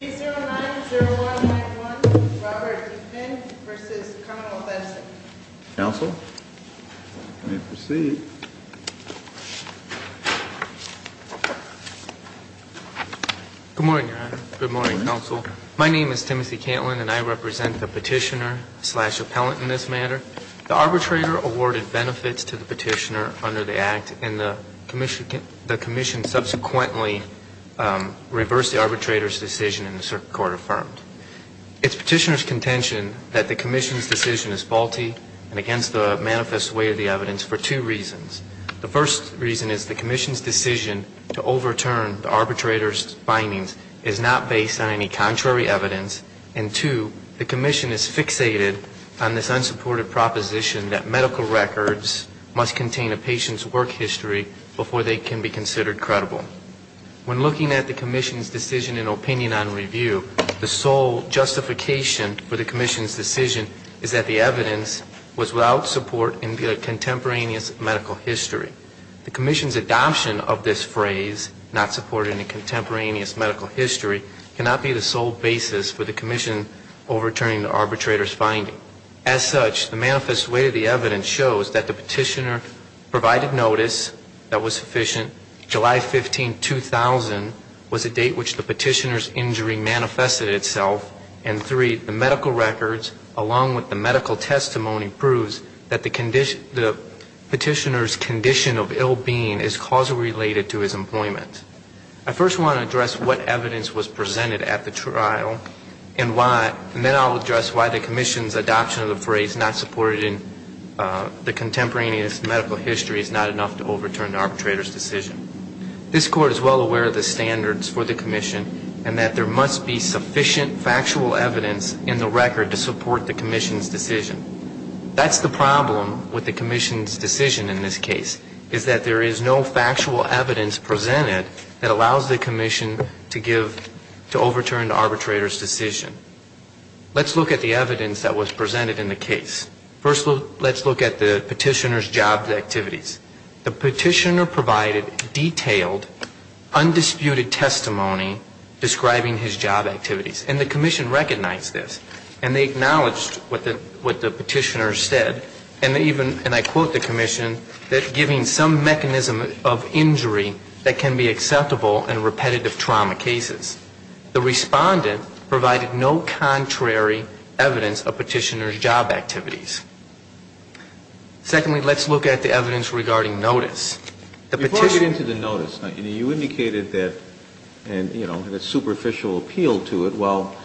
090191 Robert Deepen v. Connell Benson. Counsel, you may proceed. Good morning, Your Honor. Good morning, Counsel. My name is Timothy Cantland and I represent the petitioner-slash-appellant in this matter. The arbitrator awarded benefits to the petitioner under the Act, and the Commission subsequently reversed the arbitrator's decision and the Circuit Court affirmed. It's petitioner's contention that the Commission's decision is faulty and against the manifest way of the evidence for two reasons. The first reason is the Commission's decision to overturn the arbitrator's findings is not based on any contrary evidence, and two, the Commission is fixated on this unsupported proposition that medical records must contain a patient's work history before they can be considered credible. When looking at the Commission's decision in opinion on review, the sole justification for the Commission's decision is that the evidence was without support in the contemporaneous medical history. The Commission's adoption of this phrase, not supported in the contemporaneous medical history, cannot be the sole basis for the Commission overturning the arbitrator's finding. So, as such, the manifest way of the evidence shows that the petitioner provided notice that was sufficient, July 15, 2000 was a date which the petitioner's injury manifested itself, and three, the medical records along with the medical testimony proves that the petitioner's condition of ill being is causally related to his employment. I first want to address what evidence was presented at the trial and then I'll address why the Commission's adoption of the phrase not supported in the contemporaneous medical history is not enough to overturn the arbitrator's decision. This Court is well aware of the standards for the Commission and that there must be sufficient factual evidence in the record to support the Commission's decision. That's the problem with the Commission's decision in this case, is that there is no factual evidence presented that allows the Commission to give, to overturn the arbitrator's decision. Let's look at the evidence that was presented in the case. First, let's look at the petitioner's job activities. The petitioner provided detailed, undisputed testimony describing his job activities. And the Commission recognized this. And they acknowledged what the petitioner said. And they even, and I quote the Commission, that giving some mechanism of injury that can be acceptable in repetitive trauma cases. The respondent provided no contrary evidence of petitioner's job activities. Secondly, let's look at the evidence regarding notice. The petitioner... Before I get into the notice, you indicated that, and, you know, had a superficial appeal to it. Well,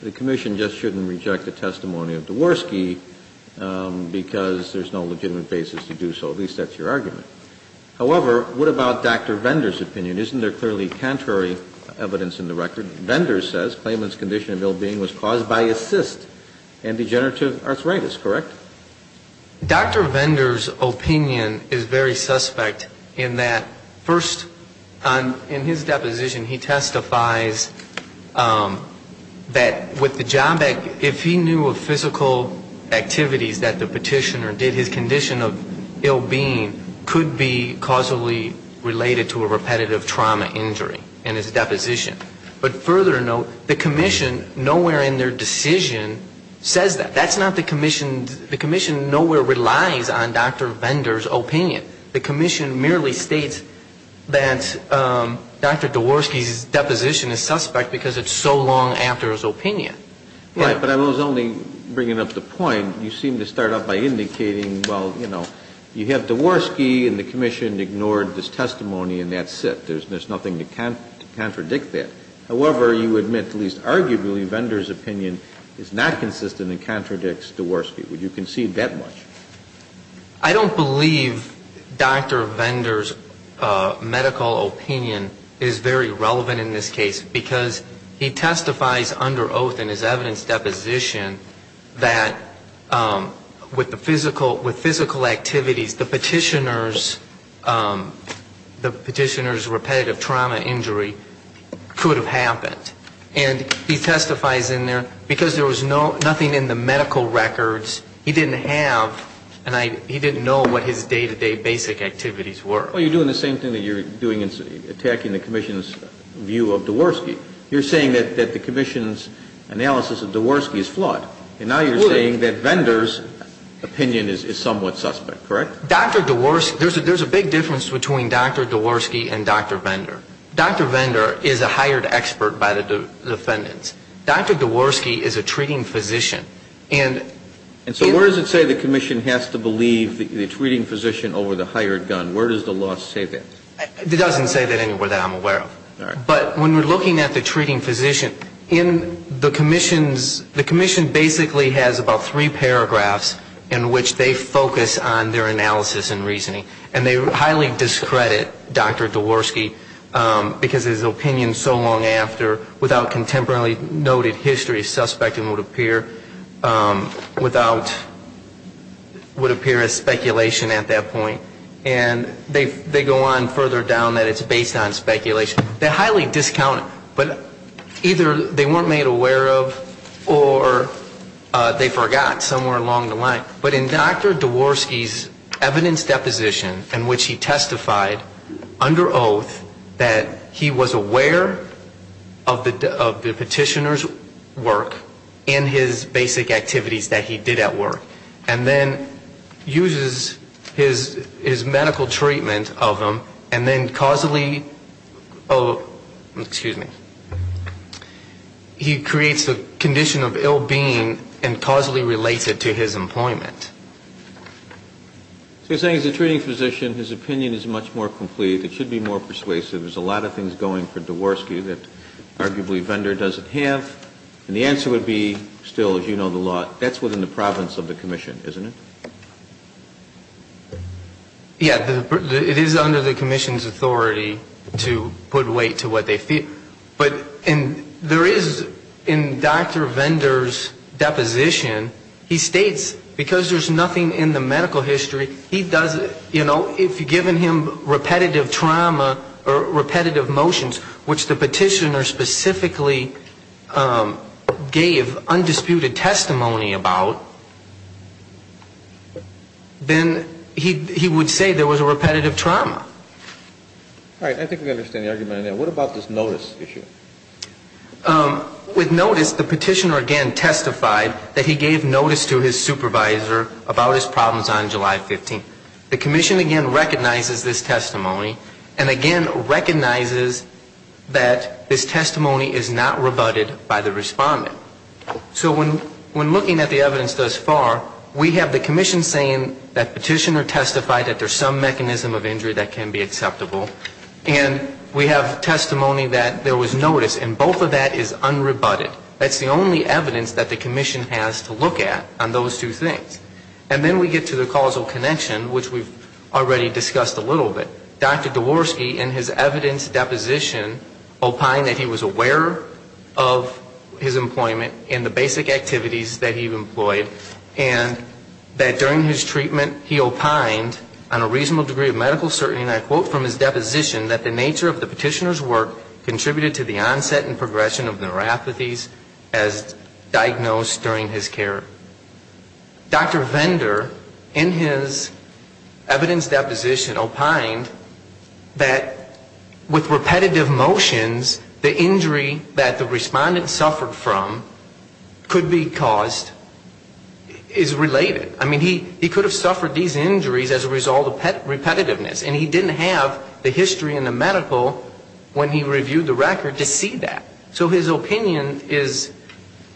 the Commission just shouldn't reject the testimony of Dvorsky because there's no legitimate basis to do so. At least that's your argument. However, what about Dr. Vendor's opinion? Isn't there clearly contrary evidence in the record? Vendor says claimant's condition of ill-being was caused by a cyst and degenerative arthritis, correct? Dr. Vendor's opinion is very suspect in that, first, in his deposition, he testifies that with the job act, if he knew of physical activities that the petitioner did, his condition of ill-being could be causally related to a repetitive trauma injury in his deposition. But further note, the Commission, nowhere in their decision says that. That's not the Commission. The Commission nowhere relies on Dr. Vendor's opinion. The Commission merely states that Dr. Dvorsky's deposition is suspect because it's so long after his opinion. Right. But I was only bringing up the point. You seem to start off by indicating, well, you know, you have Dvorsky and the Commission ignored this testimony and that's it. There's nothing to contradict that. However, you admit, at least arguably, Vendor's opinion is not consistent and contradicts Dvorsky. Would you concede that much? I don't believe Dr. Vendor's medical opinion is very relevant in this case because he testifies under oath in his evidence deposition that with physical activities, the petitioner's repetitive trauma injury could have happened. And he testifies in there because there was nothing in the medical records. He didn't have and he didn't know what his day-to-day basic activities were. Well, you're doing the same thing that you're doing in attacking the Commission's view of Dvorsky. You're saying that the Commission's analysis of Dvorsky is flawed. And now you're saying that Vendor's opinion is somewhat suspect, correct? Dr. Dvorsky, there's a big difference between Dr. Dvorsky and Dr. Vendor. Dr. Vendor is a hired expert by the defendants. Dr. Dvorsky is a treating physician. And so where does it say the Commission has to believe the treating physician over the hired gun? Where does the law say that? It doesn't say that anywhere that I'm aware of. But when we're looking at the treating physician, in the Commission's, the Commission basically has about three paragraphs in which they focus on their analysis and reasoning. And they highly discredit Dr. Dvorsky because his opinion so long after, without contemporarily noted history, is suspect and would appear without, would appear as speculation at that point. And they go on further down that it's based on speculation. They're highly discounted. But either they weren't made aware of or they forgot somewhere along the line. But in Dr. Dvorsky's evidence deposition in which he testified under oath that he was aware of the petitioner's work in his basic activities that he did at work, and then uses his medical treatment of him, and then causally, oh, excuse me, he creates a condition of ill being and causally relates it to his employment. So you're saying as a treating physician his opinion is much more complete, it should be more persuasive, there's a lot of things going for Dvorsky that arguably Vendor doesn't have. And the answer would be still, as you know, the law, that's within the province of the commission, isn't it? Yeah, it is under the commission's authority to put weight to what they feel. But there is in Dr. Vendor's deposition, he states because there's nothing in the medical history, he does, you know, if you've given him repetitive trauma or repetitive motions, which the petitioner specifically gave undisputed testimony about, then he would say there was a repetitive trauma. All right. I think we understand the argument there. What about this notice issue? With notice, the petitioner again testified that he gave notice to his supervisor about his problems on July 15th. The commission again recognizes this testimony, and again recognizes that this testimony is not rebutted by the respondent. So when looking at the evidence thus far, we have the commission saying that petitioner testified that there's some mechanism of injury that can be acceptable, and we have testimony that there was notice, and both of that is unrebutted. That's the only evidence that the commission has to look at on those two things. And then we get to the causal connection, which we've already discussed a little bit. Dr. Dvorsky in his evidence deposition opined that he was aware of his employment and the basic activities that he employed, and that during his treatment he opined on a reasonable degree of medical certainty, and I quote from his deposition, that the nature of the petitioner's work contributed to the onset and progression of neuropathies as diagnosed during his care. Dr. Vendor in his evidence deposition opined that with repetitive motions, the injury that the respondent suffered from could be caused is related. I mean, he could have suffered these injuries as a result of repetitiveness, and he didn't have the history in the medical when he reviewed the record to see that. So his opinion is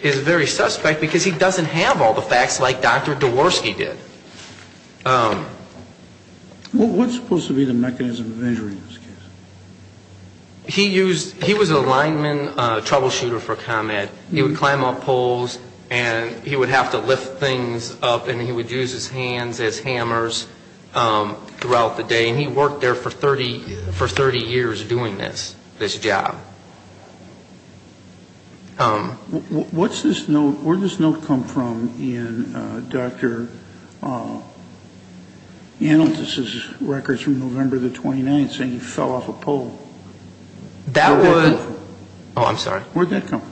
very suspect, because he doesn't have all the facts like Dr. Dvorsky did. What's supposed to be the mechanism of injury in this case? He was a lineman troubleshooter for ComEd. He would climb up poles, and he would have to lift things up, and he would use his hands as hammers throughout the day, and he worked there for 30 years doing this, this job. What's this note? Where did this note come from in Dr. Analtis's records from November the 29th saying he fell off a pole? Where did that come from? Oh, I'm sorry. Where did that come from?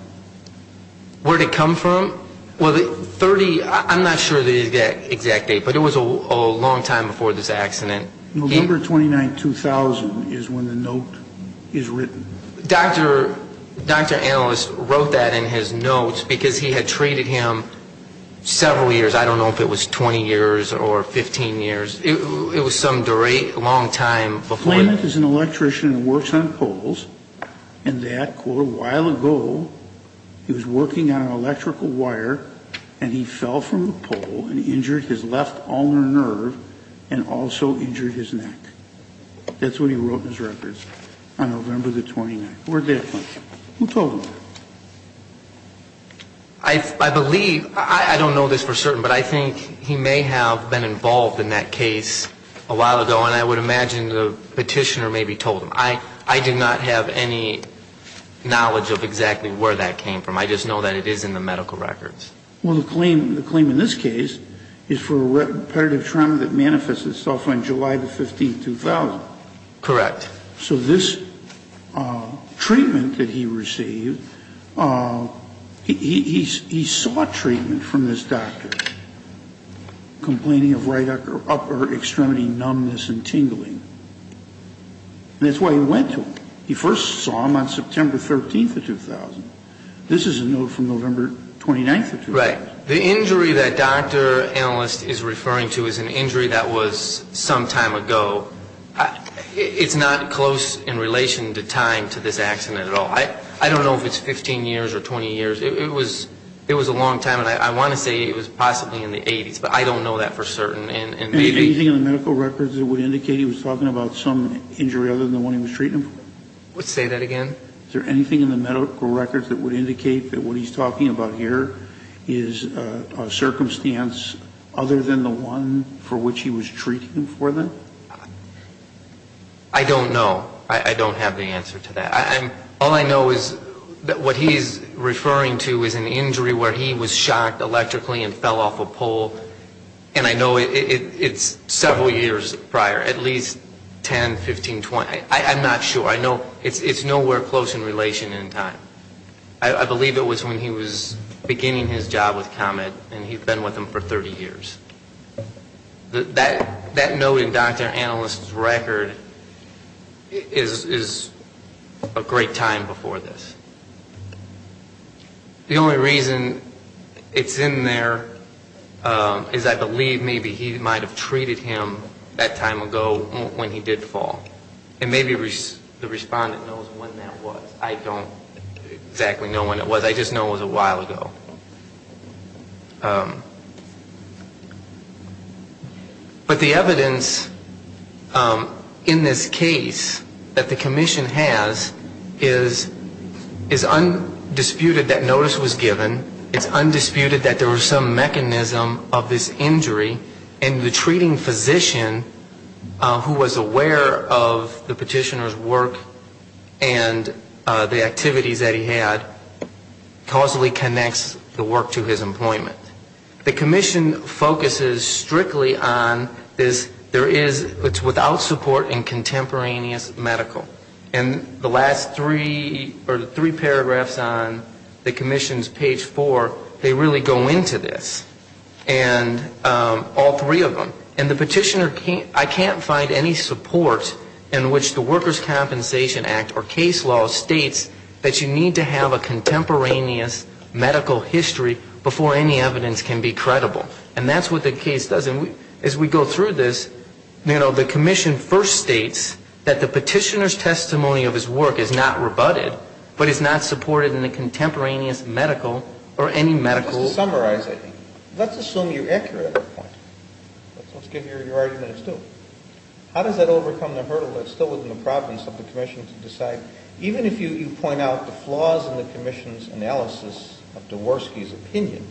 Where did it come from? Well, the 30, I'm not sure the exact date, but it was a long time before this accident. November 29, 2000 is when the note is written. Dr. Analtis wrote that in his notes because he had treated him several years. I don't know if it was 20 years or 15 years. It was some long time before that. Dr. Analtis is an electrician who works on poles, and that quote, a while ago, he was working on an electrical wire, and he fell from a pole and injured his left ulnar nerve and also injured his neck. That's what he wrote in his records on November the 29th. Where did that come from? Who told him that? I believe, I don't know this for certain, but I think he may have been involved in that case a while ago, and I would imagine the petitioner maybe told him. I do not have any knowledge of exactly where that came from. I just know that it is in the medical records. Well, the claim in this case is for repetitive trauma that manifests itself on July the 15th, 2000. Correct. So this treatment that he received, he sought treatment from this doctor, complaining of right upper extremity numbness and tingling. And that's why he went to him. He first saw him on September 13th of 2000. This is a note from November 29th of 2000. Right. The injury that Dr. Analtis is referring to is an injury that was some time ago. It's not close in relation to time to this accident at all. I don't know if it's 15 years or 20 years. It was a long time, and I want to say it was possibly in the 80s, but I don't know that for certain. Anything in the medical records that would indicate he was talking about some injury other than the one he was treating him for? Say that again? Is there anything in the medical records that would indicate that what he's talking about here is a circumstance other than the one for which he was treating him for then? I don't know. I don't have the answer to that. All I know is that what he's referring to is an injury where he was shocked electrically and fell off a pole, and I know it's several years prior, at least 10, 15, 20. I'm not sure. I know it's nowhere close in relation in time. I believe it was when he was beginning his job with Comet, and he'd been with them for 30 years. That note in Dr. Analyst's record is a great time before this. The only reason it's in there is I believe maybe he might have treated him that time ago when he did fall, and maybe the respondent knows when that was. I don't exactly know when it was. I just know it was a while ago. But the evidence in this case that the commission has is undisputed that notice was given. It's undisputed that there was some mechanism of this injury, and the treating physician who was aware of the work to his employment. The commission focuses strictly on this, there is, it's without support in contemporaneous medical. And the last three, or the three paragraphs on the commission's page four, they really go into this. And all three of them. And the petitioner, I can't find any support in which the Workers' Compensation Act or case law states that you need to have contemporaneous medical history before any evidence can be credible. And that's what the case does. And as we go through this, you know, the commission first states that the petitioner's testimony of his work is not rebutted, but is not supported in the contemporaneous medical or any medical. Let's summarize it. Let's assume you're accurate at that point. Let's give your arguments, too. How does that overcome the hurdle that's still within the province of the commission to decide, even if you point out the flaws in the commission's analysis of Dvorsky's opinion,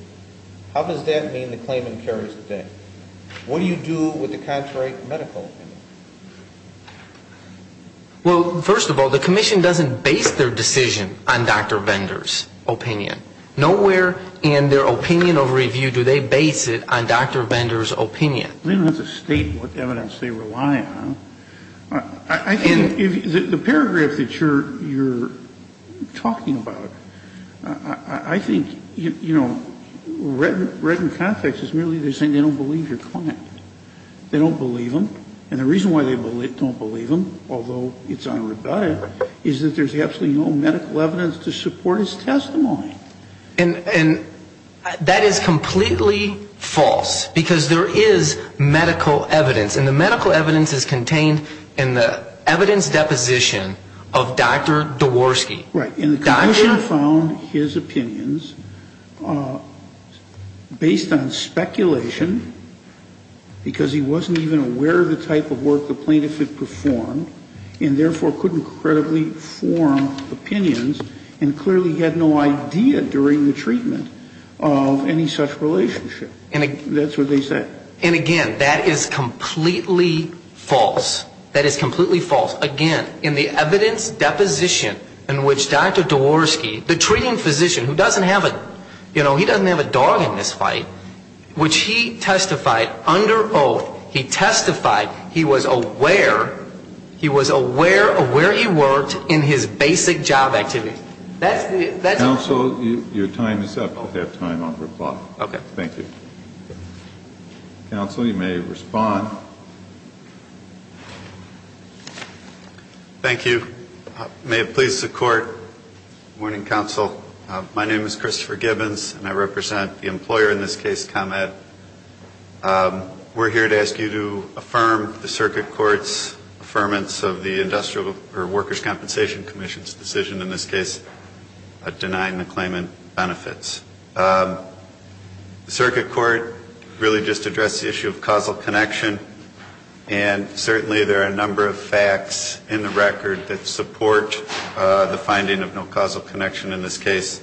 how does that mean the claimant carries the thing? What do you do with the contrary medical opinion? Well, first of all, the commission doesn't base their decision on Dr. Bender's opinion. Nowhere in their opinion of review do they base it on Dr. Bender's opinion. I mean, that's a statement of evidence they rely on. I think the paragraph that you're talking about, I think, you know, read in context is merely they're saying they don't believe your claimant. They don't believe him. And the reason why they don't believe him, although it's unrebutted, is that there's absolutely no medical evidence to support his testimony. And that is completely false, because there is medical evidence. And the medical evidence is contained in the evidence deposition of Dr. Dvorsky. Right. And the commission found his opinions based on speculation, because he wasn't even aware of the type of work the plaintiff had performed, and therefore couldn't credibly form opinions and clearly had no idea during the treatment of any such relationship. That's what they said. And again, that is completely false. That is completely false. Again, in the evidence deposition in which Dr. Dvorsky, the treating physician who doesn't have a, you know, he doesn't have a dog in this fight, which he testified under oath, he testified he was aware, he was aware of where he worked in his basic job activity. Counsel, your time is up. You'll have time on reply. Okay. Thank you. Counsel, you may respond. Thank you. May it please the Court. Good morning, Counsel. My name is Christopher Gibbons, and I represent the employer in this case comment. We're here to ask you to affirm the circuit court's affirmance of the Industrial or Workers' Compensation Commission's decision in this case of denying the claimant benefits. The circuit court really just addressed the issue of causal connection, and certainly there are a number of facts in the record that support the finding of no causal connection in this case.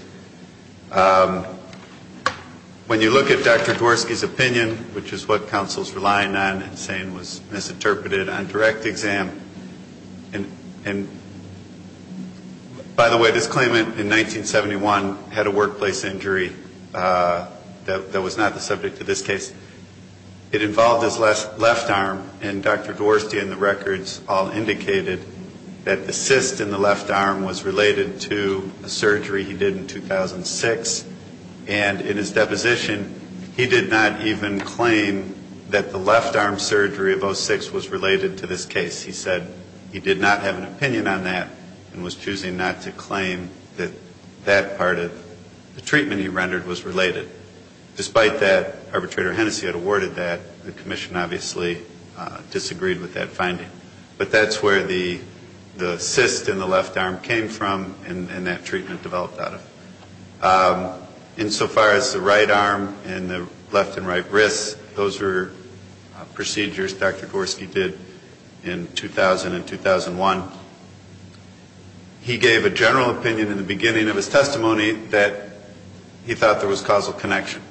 When you look at Dr. Dvorsky's opinion, which is what counsel's relying on and saying was misinterpreted on direct exam, and by the way, this claimant in 1971 had a workplace injury that was not the subject of this case. It involved his left arm, and Dr. Dvorsky in the records all indicated that the cyst in the left arm was related to a surgery he did in 2006, and in his deposition, he did not even claim that the left arm surgery of 06 was related to this case. He said he did not have an opinion on that and was choosing not to claim that that part of the treatment he rendered was related. Despite that, arbitrator Hennessey had awarded that. The commission obviously disagreed with that finding. But that's where the cyst in the left arm came from and that treatment developed out of. Insofar as the right arm and the left and right wrists, those were procedures Dr. Dvorsky did in 2000 and 2001. He gave a general opinion in the beginning of his testimony that he thought there was causal connection.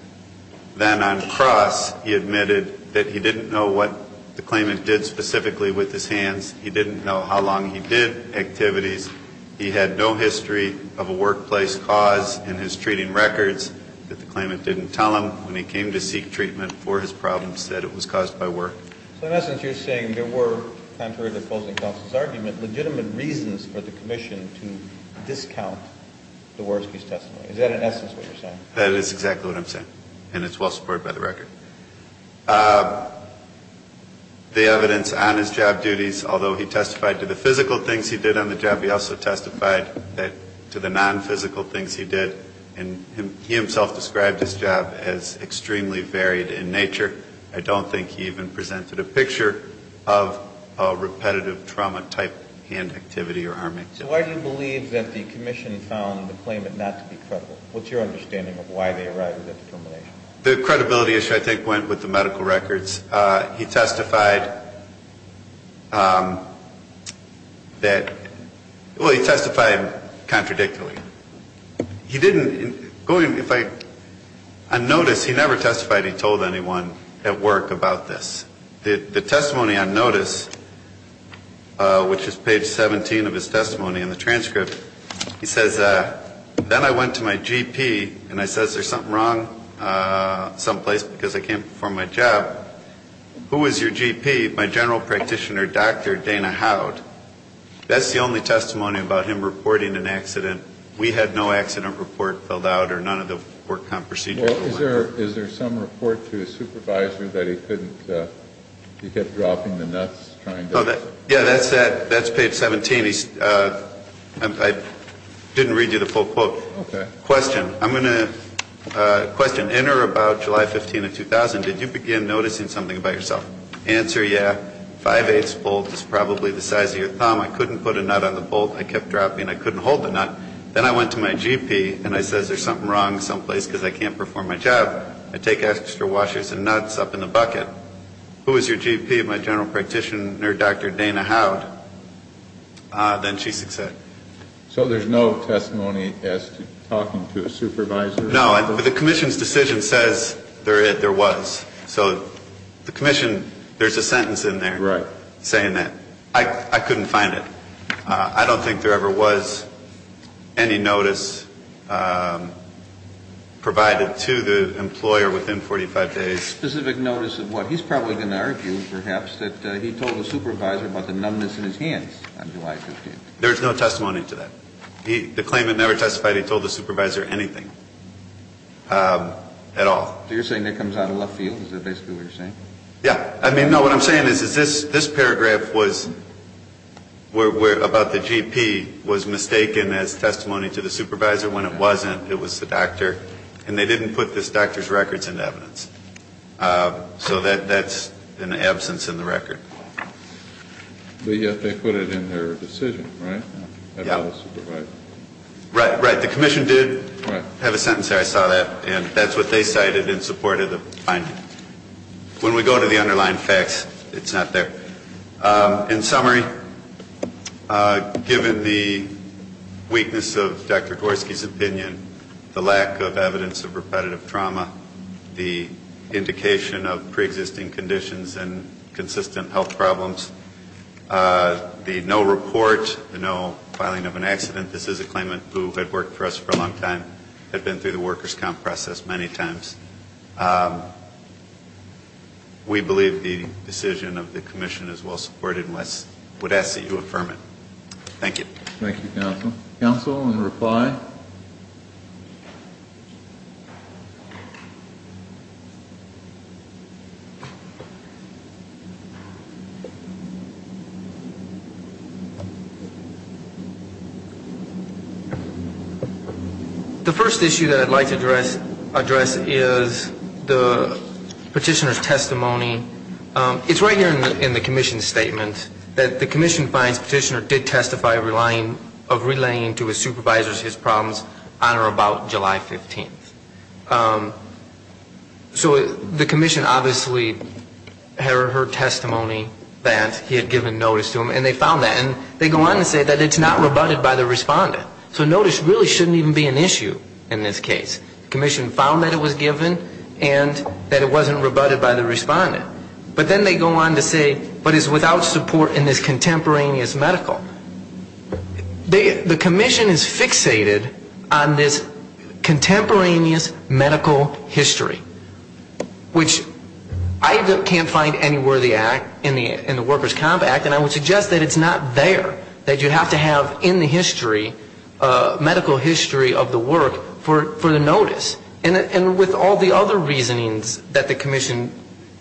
Then on cross, he admitted that he didn't know what the claimant did specifically with his hands. He didn't know how long he did activities. He had no history of a workplace cause in his treating records that the claimant didn't tell him when he came to seek treatment for his problems that it was caused by work. So in essence, you're saying there were, contrary to the closing counsel's argument, legitimate reasons for the commission to discount Dvorsky's testimony. Is that in essence what you're saying? That is exactly what I'm saying. And it's well supported by the record. The evidence on his job duties, although he testified to the physical things he did on the job, he also testified to the nonphysical things he did. And he himself described his job as extremely varied in nature. I don't think he even presented a picture of a repetitive trauma-type hand activity or arm activity. Why do you believe that the commission found the claimant not to be credible? What's your understanding of why they arrived at that determination? The credibility issue, I think, went with the medical records. He testified that, well, he testified contradictorily. He didn't, going, if I, on notice, he never testified he told anyone at work about this. The testimony on notice, which is page 17 of his testimony in the transcript, he says, then I went to my GP and I says there's something wrong someplace because I can't perform my job. Who was your GP? My general practitioner, Dr. Dana Howd. That's the only testimony about him reporting an accident. We had no accident report filled out or none of the work on procedures. Well, is there some report to his supervisor that he couldn't, he kept dropping the nuts trying to? Yeah, that's page 17. I didn't read you the full quote. Okay. Question. I'm going to, question. Enter about July 15 of 2000. Did you begin noticing something about yourself? Answer, yeah. I went to my GP and I says there's something wrong someplace because I can't perform my job. I take extra washers and nuts up in the bucket. Who was your GP? My general practitioner, Dr. Dana Howd. Then she said. So there's no testimony as to talking to a supervisor? No. But the commission's decision says there was. So the commission, there's a sentence in there. Right. Saying that. I couldn't find it. I don't think there ever was any notice provided to the employer within 45 days. Specific notice of what? He's probably going to argue, perhaps, that he told the supervisor about the numbness in his hands on July 15. There's no testimony to that. The claimant never testified he told the supervisor anything at all. So you're saying that comes out of left field? Is that basically what you're saying? Yeah. I mean, no, what I'm saying is this paragraph was about the GP was mistaken as testimony to the supervisor. When it wasn't, it was the doctor. And they didn't put this doctor's records into evidence. So that's an absence in the record. But yet they put it in their decision, right? Yeah. About the supervisor. Right. The commission did have a sentence there. I saw that. And that's what they cited in support of the finding. When we go to the underlying facts, it's not there. In summary, given the weakness of Dr. Dvorsky's opinion, the lack of evidence of repetitive trauma, the indication of preexisting conditions and consistent health problems, the no report, no filing of an accident. This is a claimant who had worked for us for a long time, had been through the workers' comp process many times. We believe the decision of the commission is well supported and would ask that you affirm it. Thank you. Thank you, counsel. Counsel, in reply? Thank you. The first issue that I'd like to address is the petitioner's testimony. It's right here in the commission's statement that the commission finds the petitioner did testify of relaying to his supervisors his problems on or about July 15th. So the commission obviously heard testimony that he had given notice to him, and they found that. And they go on to say that it's not rebutted by the respondent. So notice really shouldn't even be an issue in this case. The commission found that it was given and that it wasn't rebutted by the respondent. But then they go on to say, but it's without support in this contemporaneous medical. The commission is fixated on this contemporaneous medical history, which I can't find anywhere in the workers' comp act, and I would suggest that it's not there, that you have to have in the history, medical history of the work for the notice. And with all the other reasonings that the commission,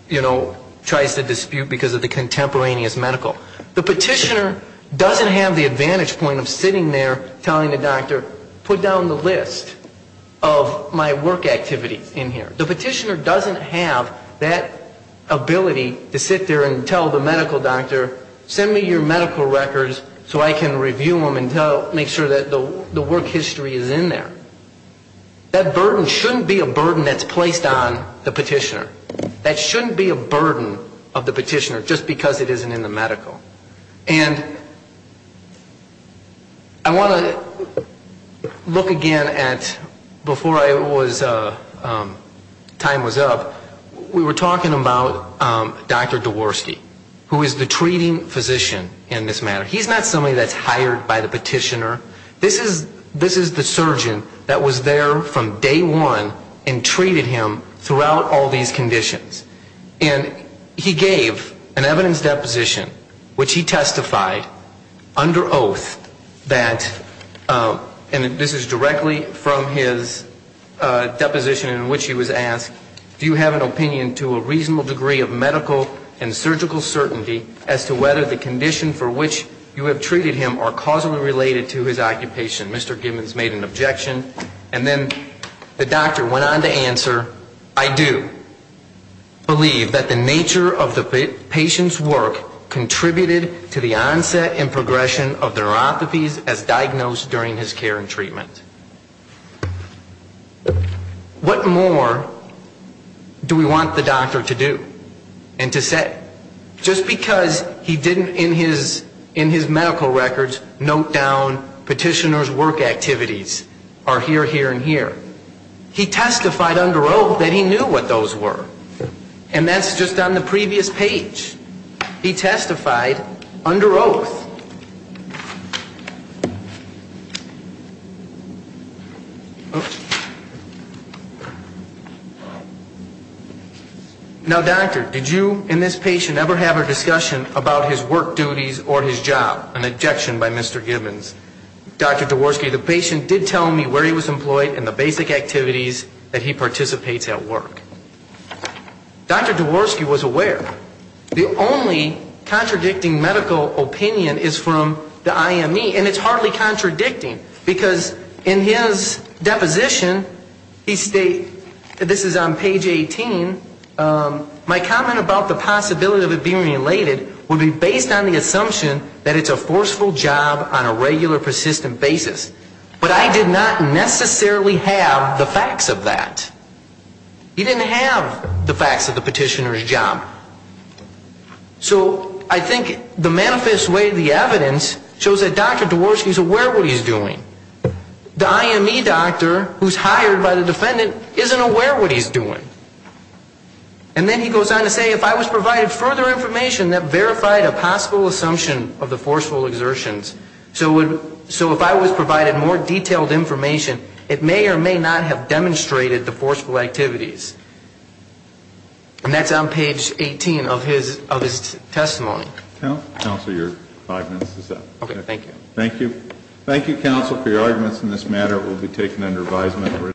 you know, tries to dispute because of the contemporaneous medical, the petitioner doesn't have the advantage point of sitting there telling the doctor, put down the list of my work activity in here. The petitioner doesn't have that ability to sit there and tell the medical doctor, send me your medical records so I can review them and make sure that the work history is in there. That burden shouldn't be a burden that's placed on the petitioner. That shouldn't be a burden of the petitioner just because it isn't in the medical. And I want to look again at, before I was, time was up, we were talking about Dr. Dvorsky, who is the treating physician in this matter. He's not somebody that's hired by the petitioner. This is the surgeon that was there from day one and treated him throughout all these conditions. And he gave an evidence deposition which he testified under oath that, and this is directly from his deposition in which he was asked, do you have an opinion to a reasonable degree of medical and surgical certainty as to whether the condition for which you have treated him are causally related to his occupation? Mr. Gibbons made an objection. And then the doctor went on to answer, I do. I do believe that the nature of the patient's work contributed to the onset and progression of neuropathies as diagnosed during his care and treatment. What more do we want the doctor to do and to say? Just because he didn't in his medical records note down petitioner's work activities are here, here, and here. He testified under oath that he knew what those were. And that's just on the previous page. He testified under oath. Now, doctor, did you and this patient ever have a discussion about his work duties or his job? An objection by Mr. Gibbons. Dr. Diworski, the patient did tell me where he was employed and the basic activities that he participates at work. Dr. Diworski was aware. The only contradicting medical opinion is from the IME. And it's hardly contradicting because in his deposition, he states, this is on page 18, my comment about the possibility of it being related would be based on the assumption that it's a forceful job on a regular, persistent basis. But I did not necessarily have the facts of that. He didn't have the facts of the petitioner's job. So I think the manifest way of the evidence shows that Dr. Diworski is aware of what he's doing. The IME doctor who's hired by the defendant isn't aware of what he's doing. And then he goes on to say, if I was provided further information that verified a possible assumption of the forceful exertions, so if I was provided more detailed information, it may or may not have demonstrated the forceful activities. And that's on page 18 of his testimony. Counsel, your five minutes is up. Okay, thank you. Thank you. Thank you, counsel, for your arguments in this matter. It will be taken under advisement.